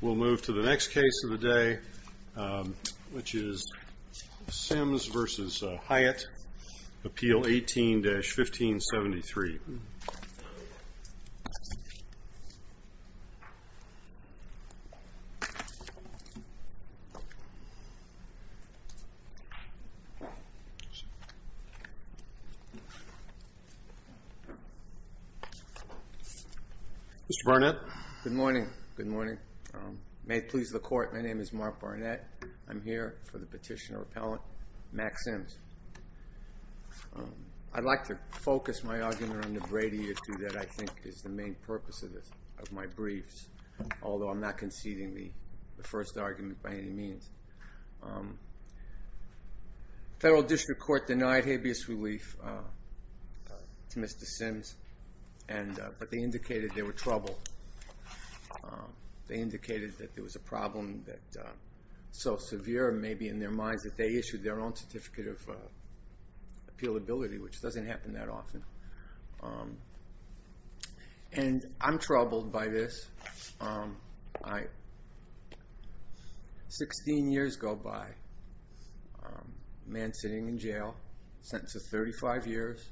We'll move to the next case of the day, which is Sims v. Hyatte, Appeal 18-1573. Mr. Barnett. Good morning. Good morning. May it please the Court, my name is Mark Barnett. I'm here for the petitioner-appellant, Max Sims. I'd like to focus my argument under Brady that I think is the main purpose of my briefs, although I'm not conceding the first argument by any means. The Federal District Court denied habeas relief to Mr. Sims, but they indicated they were troubled. They indicated that there was a problem that was so severe, maybe in their minds, that they issued their own certificate of appealability, which doesn't happen that often. And I'm troubled by this. Sixteen years go by, a man sitting in jail, sentenced to 35 years,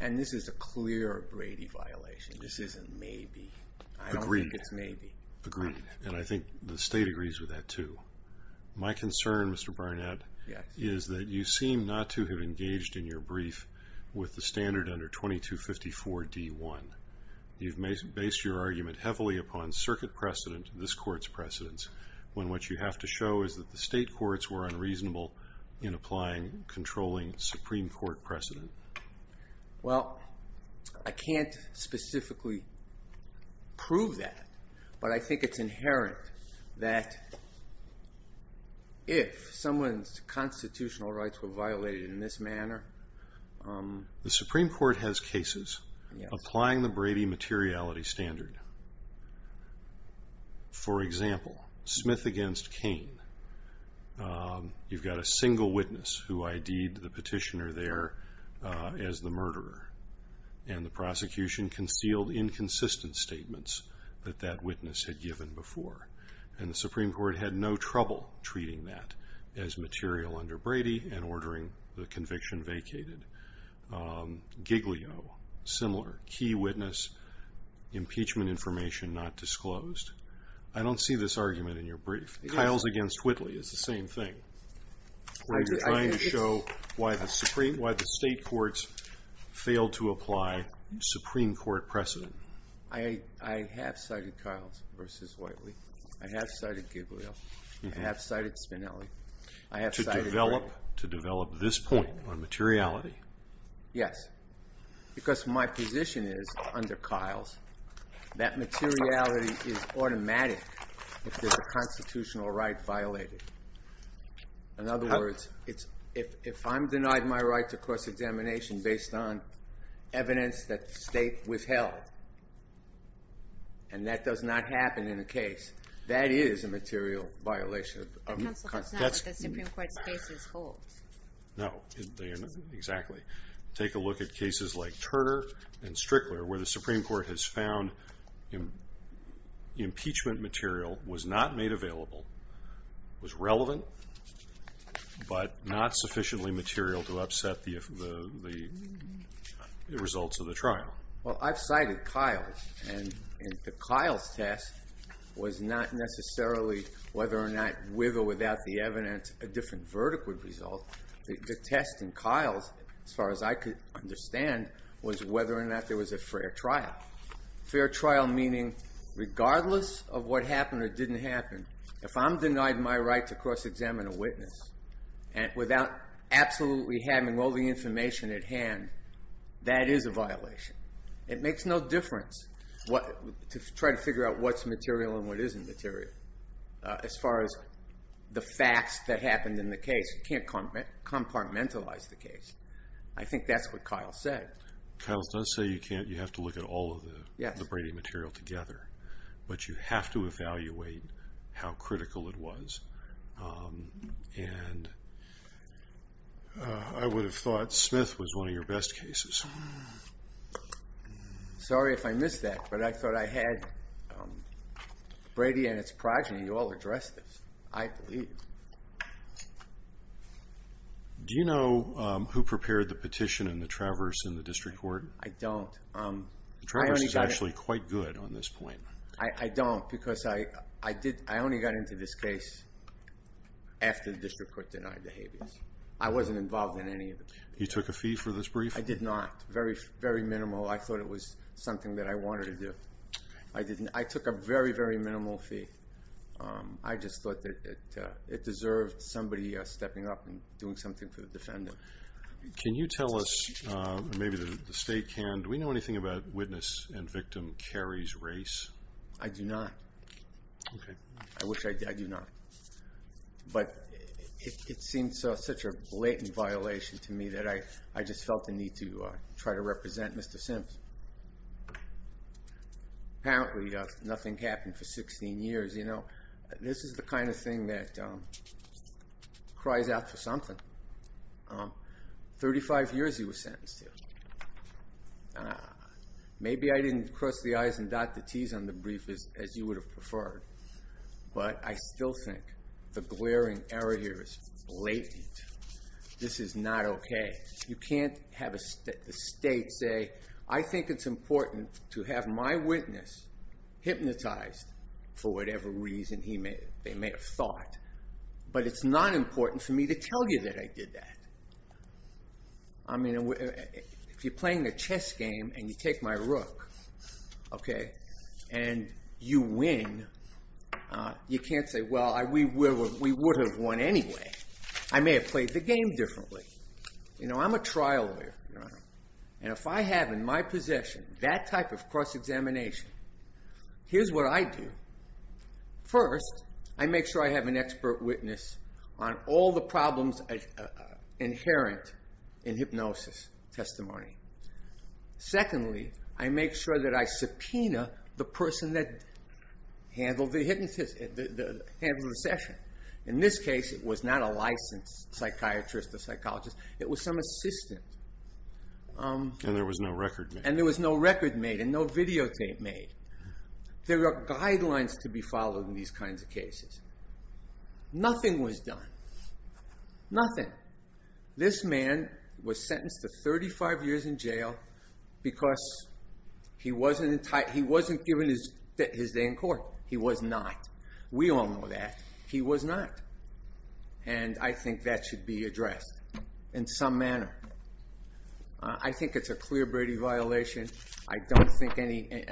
and this is a clear Brady violation. This isn't maybe. I don't think it's maybe. Agreed. And I think the State agrees with that, too. My concern, Mr. Barnett, is that you seem not to have engaged in your brief with the standard under 2254d-1. You've based your argument heavily upon Circuit precedent, this Court's precedents, when what you have to show is that the State courts were unreasonable in applying, controlling Supreme Court precedent. Well, I can't specifically prove that, but I think it's inherent that if someone's constitutional rights were violated in this manner... You've got a single witness who ID'd the petitioner there as the murderer, and the prosecution concealed inconsistent statements that that witness had given before. And the Supreme Court had no trouble treating that as material under Brady and ordering the conviction vacated. Giglio, similar. Key witness, impeachment information not disclosed. I don't see this argument in your brief. Kyle's against Whitley is the same thing, where you're trying to show why the State courts failed to apply Supreme Court precedent. I have cited Kyle's versus Whitley. I have cited Giglio. I have cited Spinelli. To develop this point on materiality? Yes. Because my position is, under Kyle's, that materiality is automatic if there's a constitutional right violated. In other words, if I'm denied my right to cross-examination based on evidence that the State withheld, and that does not happen in a case, that is a material violation. But counsel, that's not what the Supreme Court's cases hold. No. Exactly. Take a look at cases like Turner and Strickler, where the Supreme Court has found impeachment material was not made available, was relevant, but not sufficiently material to upset the results of the trial. Well, I've cited Kyle's, and the Kyle's test was not necessarily whether or not with or without the evidence a different verdict would result. The test in Kyle's, as far as I could understand, was whether or not there was a fair trial. Fair trial meaning, regardless of what happened or didn't happen, if I'm denied my right to cross-examine a witness, and without absolutely having all the information at hand, that is a violation. It makes no difference to try to figure out what's material and what isn't material, as far as the facts that happened in the case. You can't compartmentalize the case. I think that's what Kyle said. Kyle does say you have to look at all of the Brady material together, but you have to evaluate how critical it was. And I would have thought Smith was one of your best cases. Sorry if I missed that, but I thought I had Brady and its progeny all address this, I believe. Do you know who prepared the petition and the traverse in the district court? I don't. The traverse is actually quite good on this point. I don't, because I only got into this case after the district court denied the habeas. I wasn't involved in any of it. You took a fee for this brief? I did not. Very minimal. I thought it was something that I wanted to do. I took a very, very minimal fee. I just thought that it deserved somebody stepping up and doing something for the defendant. Can you tell us, maybe the State can, do we know anything about witness and victim Carey's race? I do not. I wish I did. I do not. But it seems such a blatant violation to me that I just felt the need to try to represent Mr. Sims. Apparently nothing happened for 16 years. This is the kind of thing that cries out for something. 35 years he was sentenced to. Maybe I didn't cross the I's and dot the T's on the brief as you would have preferred, but I still think the glaring error here is blatant. This is not okay. You can't have the State say, I think it's important to have my witness hypnotized for whatever reason they may have thought. But it's not important for me to tell you that I did that. If you're playing a chess game and you take my rook and you win, you can't say, well, we would have won anyway. I may have played the game differently. I'm a trial lawyer. If I have in my possession that type of cross-examination, here's what I do. First, I make sure I have an expert witness on all the problems inherent in hypnosis testimony. Secondly, I make sure that I subpoena the person that handled the session. In this case, it was not a licensed psychiatrist or psychologist. It was some assistant. And there was no record made. And there was no record made and no videotape made. There are guidelines to be followed in these kinds of cases. Nothing was done. Nothing. This man was sentenced to 35 years in jail because he wasn't given his day in court. He was not. We all know that. He was not. And I think that should be addressed in some manner. I think it's a clear Brady violation.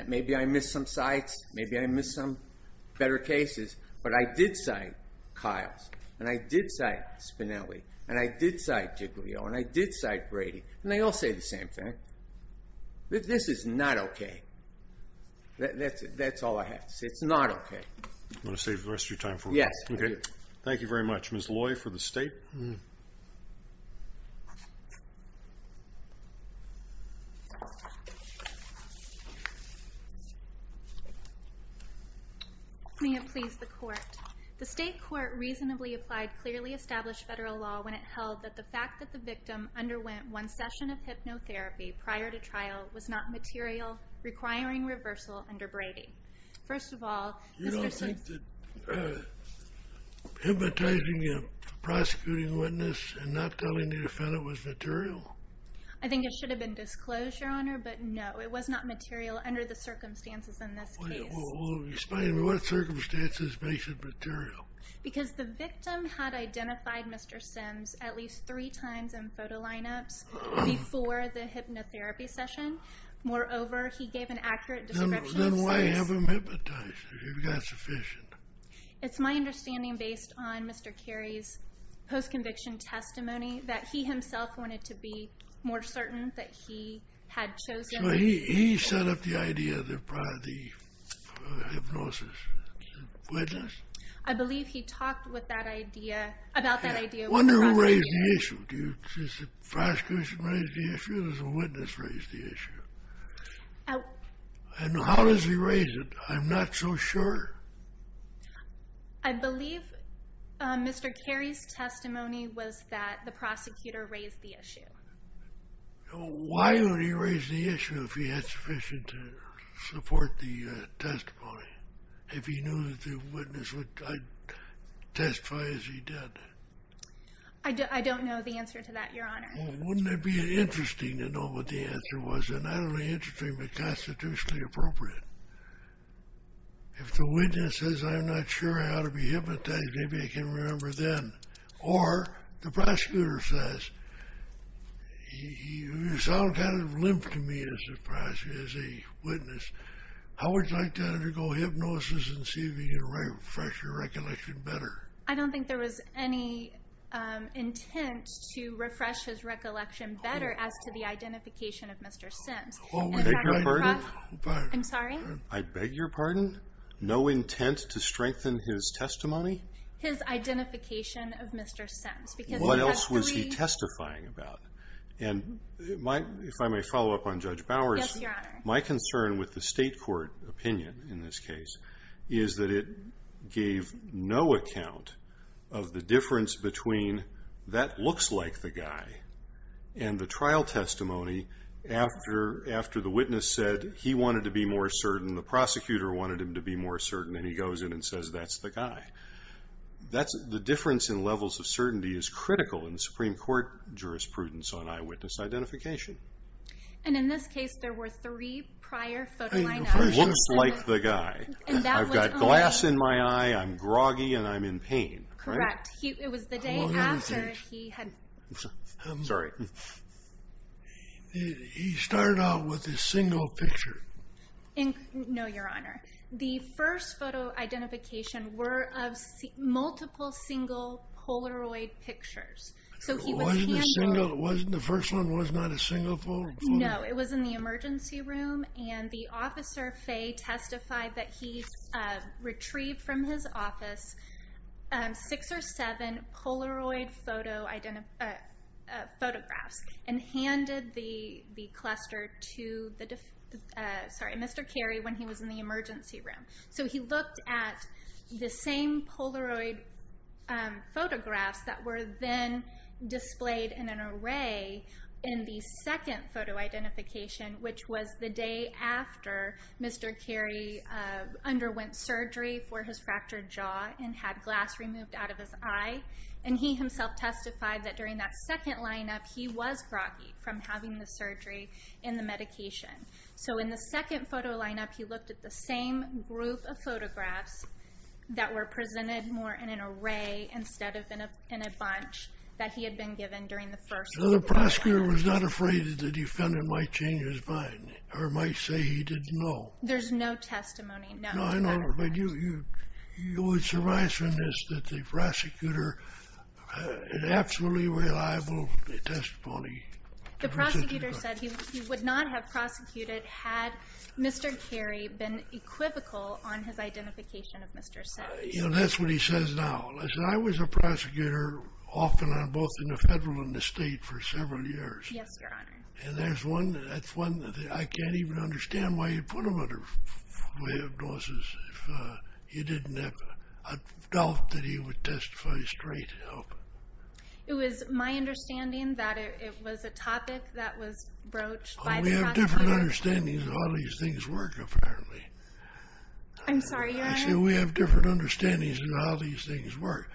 Maybe I missed some cites. Maybe I missed some better cases. But I did cite Kiles. And I did cite Spinelli. And I did cite Giglio. And I did cite Brady. And they all say the same thing. This is not okay. That's all I have to say. It's not okay. You want to save the rest of your time? Yes. Okay. Thank you very much, Ms. Loy, for the state. May it please the court. The state court reasonably applied clearly established federal law when it held that the fact that the victim underwent one session of hypnotherapy prior to trial was not material, requiring reversal under Brady. First of all, Mr. Smith. You don't think that hypnotizing a prosecuting witness and not telling the defendant was material? I think it should have been disclosed, Your Honor, but no. It was not material under the circumstances in this case. Well, explain to me what circumstances makes it material. Because the victim had identified Mr. Sims at least three times in photo lineups before the hypnotherapy session. Moreover, he gave an accurate description of sites. Then why have him hypnotized if you've got sufficient? It's my understanding, based on Mr. Carey's post-conviction testimony, that he himself wanted to be more certain that he had chosen. So he set up the idea of the hypnosis witness? I believe he talked with that idea, about that idea. I wonder who raised the issue. Did the prosecution raise the issue or did the witness raise the issue? And how does he raise it? I'm not so sure. I believe Mr. Carey's testimony was that the prosecutor raised the issue. Why would he raise the issue if he had sufficient to support the testimony? If he knew that the witness would testify as he did? I don't know the answer to that, Your Honor. Well, wouldn't it be interesting to know what the answer was? And not only interesting, but constitutionally appropriate. If the witness says, I'm not sure I ought to be hypnotized, maybe I can remember then. Or the prosecutor says, you sound kind of limp to me as a witness. How would you like to undergo hypnosis and see if you can refresh your recollection better? I don't think there was any intent to refresh his recollection better as to the identification of Mr. Sims. I beg your pardon? I'm sorry? I beg your pardon? No intent to strengthen his testimony? His identification of Mr. Sims. What else was he testifying about? And if I may follow up on Judge Bowers. Yes, Your Honor. My concern with the state court opinion in this case is that it gave no account of the difference between that looks like the guy and the trial testimony after the witness said he wanted to be more certain, the prosecutor wanted him to be more certain, and he goes in and says that's the guy. The difference in levels of certainty is critical in Supreme Court jurisprudence on eyewitness identification. And in this case, there were three prior photo identifications. Looks like the guy. I've got glass in my eye, I'm groggy, and I'm in pain. Correct. It was the day after he had. Sorry. He started out with a single picture. No, Your Honor. The first photo identification were of multiple single Polaroid pictures. The first one was not a single photo? No, it was in the emergency room, and the officer, Fay, testified that he retrieved from his office six or seven Polaroid photographs and handed the cluster to Mr. Carey when he was in the emergency room. So he looked at the same Polaroid photographs that were then displayed in an array in the second photo identification, which was the day after Mr. Carey underwent surgery for his fractured jaw and had glass removed out of his eye. And he himself testified that during that second lineup, he was groggy from having the surgery and the medication. So in the second photo lineup, he looked at the same group of photographs that were presented more in an array instead of in a bunch that he had been given during the first. So the prosecutor was not afraid that the defendant might change his mind or might say he didn't know? There's no testimony, no. No, I know, but you would surmise from this that the prosecutor had absolutely reliable testimony? The prosecutor said he would not have prosecuted had Mr. Carey been equivocal on his identification of Mr. Says. You know, that's what he says now. I said I was a prosecutor often on both in the federal and the state for several years. Yes, Your Honor. And that's one that I can't even understand why you put him under way of notices if you didn't have a doubt that he would testify straight. It was my understanding that it was a topic that was broached by the prosecutor. We have different understandings of how these things work, apparently. I'm sorry, Your Honor? I said we have different understandings of how these things work.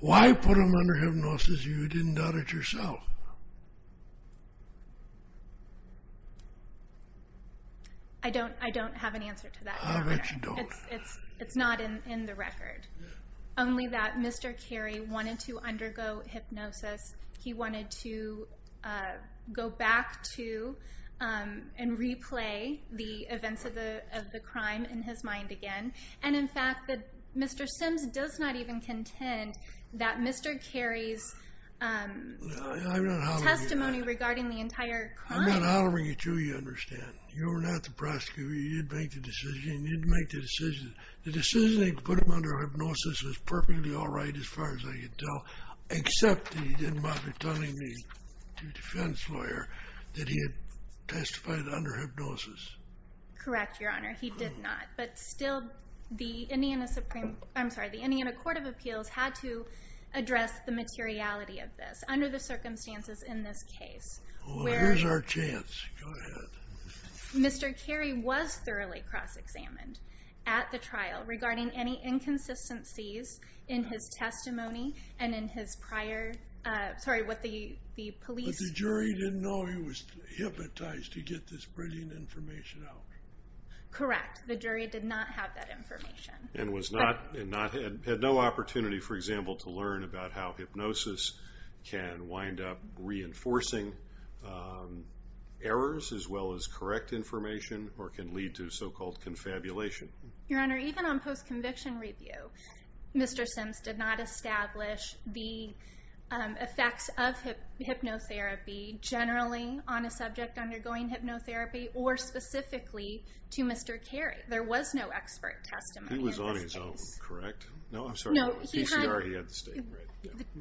Why put him under hypnosis if you didn't doubt it yourself? I don't have an answer to that, Your Honor. I'll bet you don't. It's not in the record. Only that Mr. Carey wanted to undergo hypnosis. He wanted to go back to and replay the events of the crime in his mind again. And, in fact, Mr. Sims does not even contend that Mr. Carey's testimony regarding the entire crime. I'm not hollering at you, you understand. You were not the prosecutor. You didn't make the decision. You didn't make the decision. The decision to put him under hypnosis was perfectly all right as far as I could tell, except that you didn't bother telling the defense lawyer that he had testified under hypnosis. Correct, Your Honor. He did not. But still, the Indiana Supreme Court of Appeals had to address the materiality of this under the circumstances in this case. Well, here's our chance. Go ahead. Mr. Carey was thoroughly cross-examined at the trial regarding any inconsistencies in his testimony and in his prior, sorry, what the police. But the jury didn't know he was hypnotized to get this brilliant information out. Correct. The jury did not have that information. And had no opportunity, for example, to learn about how hypnosis can wind up reinforcing errors as well as correct information or can lead to so-called confabulation. Your Honor, even on post-conviction review, Mr. Sims did not establish the effects of hypnotherapy generally on a subject undergoing hypnotherapy or specifically to Mr. Carey. There was no expert testimony in this case. He was on his own, correct? No, I'm sorry. No, he had.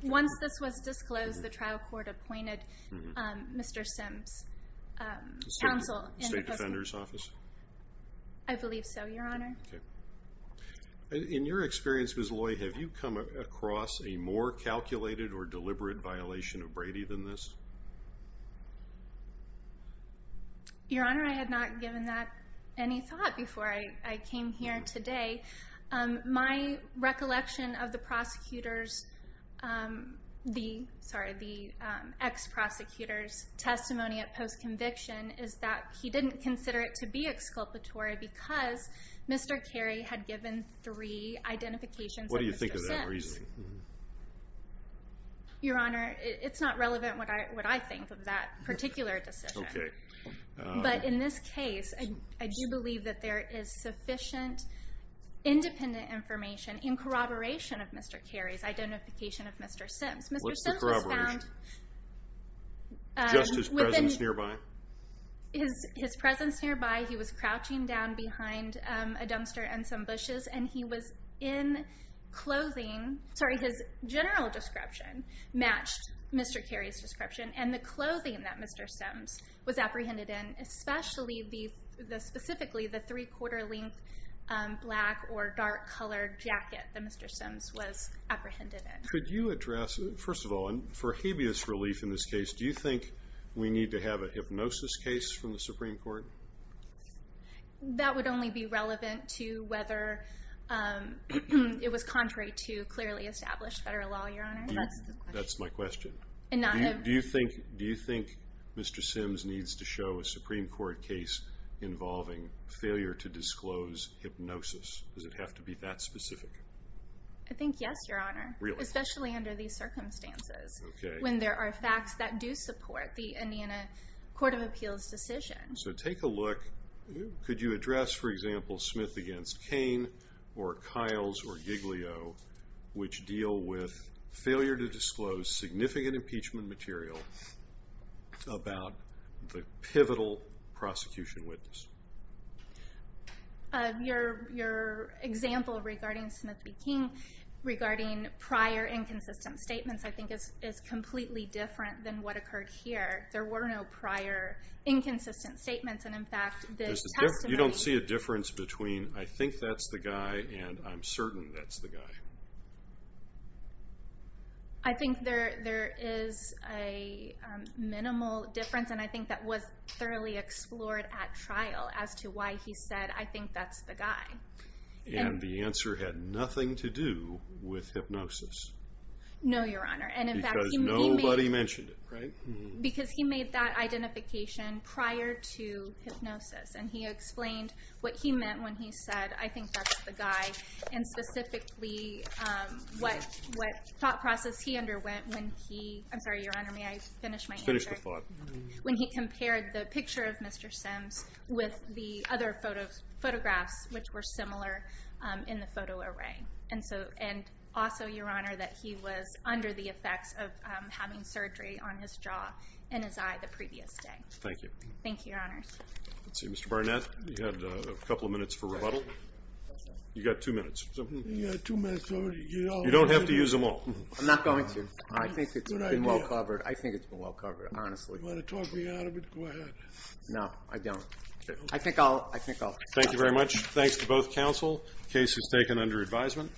Once this was disclosed, the trial court appointed Mr. Sims' counsel. State Defender's Office? I believe so, Your Honor. Okay. In your experience, Ms. Loy, have you come across a more calculated or deliberate violation of Brady than this? Your Honor, I had not given that any thought before I came here today. My recollection of the ex-prosecutor's testimony at post-conviction is that he didn't consider it to be exculpatory because Mr. Carey had given three identifications of Mr. Sims. What do you think of that reasoning? Your Honor, it's not relevant what I think of that particular decision. Okay. But in this case, I do believe that there is sufficient independent information in corroboration of Mr. Carey's identification of Mr. Sims. What's the corroboration? Just his presence nearby? His presence nearby. He was crouching down behind a dumpster and some bushes, and he was in clothing. Sorry, his general description matched Mr. Carey's description, and the clothing that Mr. Sims was apprehended in, especially specifically the three-quarter length black or dark-colored jacket that Mr. Sims was apprehended in. Could you address, first of all, for habeas relief in this case, do you think we need to have a hypnosis case from the Supreme Court? That would only be relevant to whether it was contrary to clearly established federal law, Your Honor. That's the question. That's my question. Do you think Mr. Sims needs to show a Supreme Court case involving failure to disclose hypnosis? Does it have to be that specific? I think yes, Your Honor. Really? Especially under these circumstances, when there are facts that do support the Indiana Court of Appeals decision. So take a look. Could you address, for example, Smith v. Cain or Kyles v. Giglio, which deal with failure to disclose significant impeachment material about the pivotal prosecution witness? Your example regarding Smith v. Cain, regarding prior inconsistent statements, I think is completely different than what occurred here. There were no prior inconsistent statements, and, in fact, the testimony- You don't see a difference between, I think that's the guy, and I'm certain that's the guy. I think there is a minimal difference, and I think that was thoroughly explored at trial as to why he said, I think that's the guy. And the answer had nothing to do with hypnosis. No, Your Honor. Because nobody mentioned it, right? Because he made that identification prior to hypnosis, and he explained what he meant when he said, I think that's the guy, and specifically what thought process he underwent when he- I'm sorry, Your Honor, may I finish my answer? Finish the thought. When he compared the picture of Mr. Sims with the other photographs, which were similar in the photo array. And also, Your Honor, that he was under the effects of having surgery on his jaw and his eye the previous day. Thank you. Thank you, Your Honor. Let's see, Mr. Barnett, you had a couple of minutes for rebuttal. You got two minutes. You got two minutes. You don't have to use them all. I'm not going to. I think it's been well covered. I think it's been well covered, honestly. You want to talk me out of it? Go ahead. No, I don't. I think I'll- Thank you very much. Thanks to both counsel. The case is taken under advisement.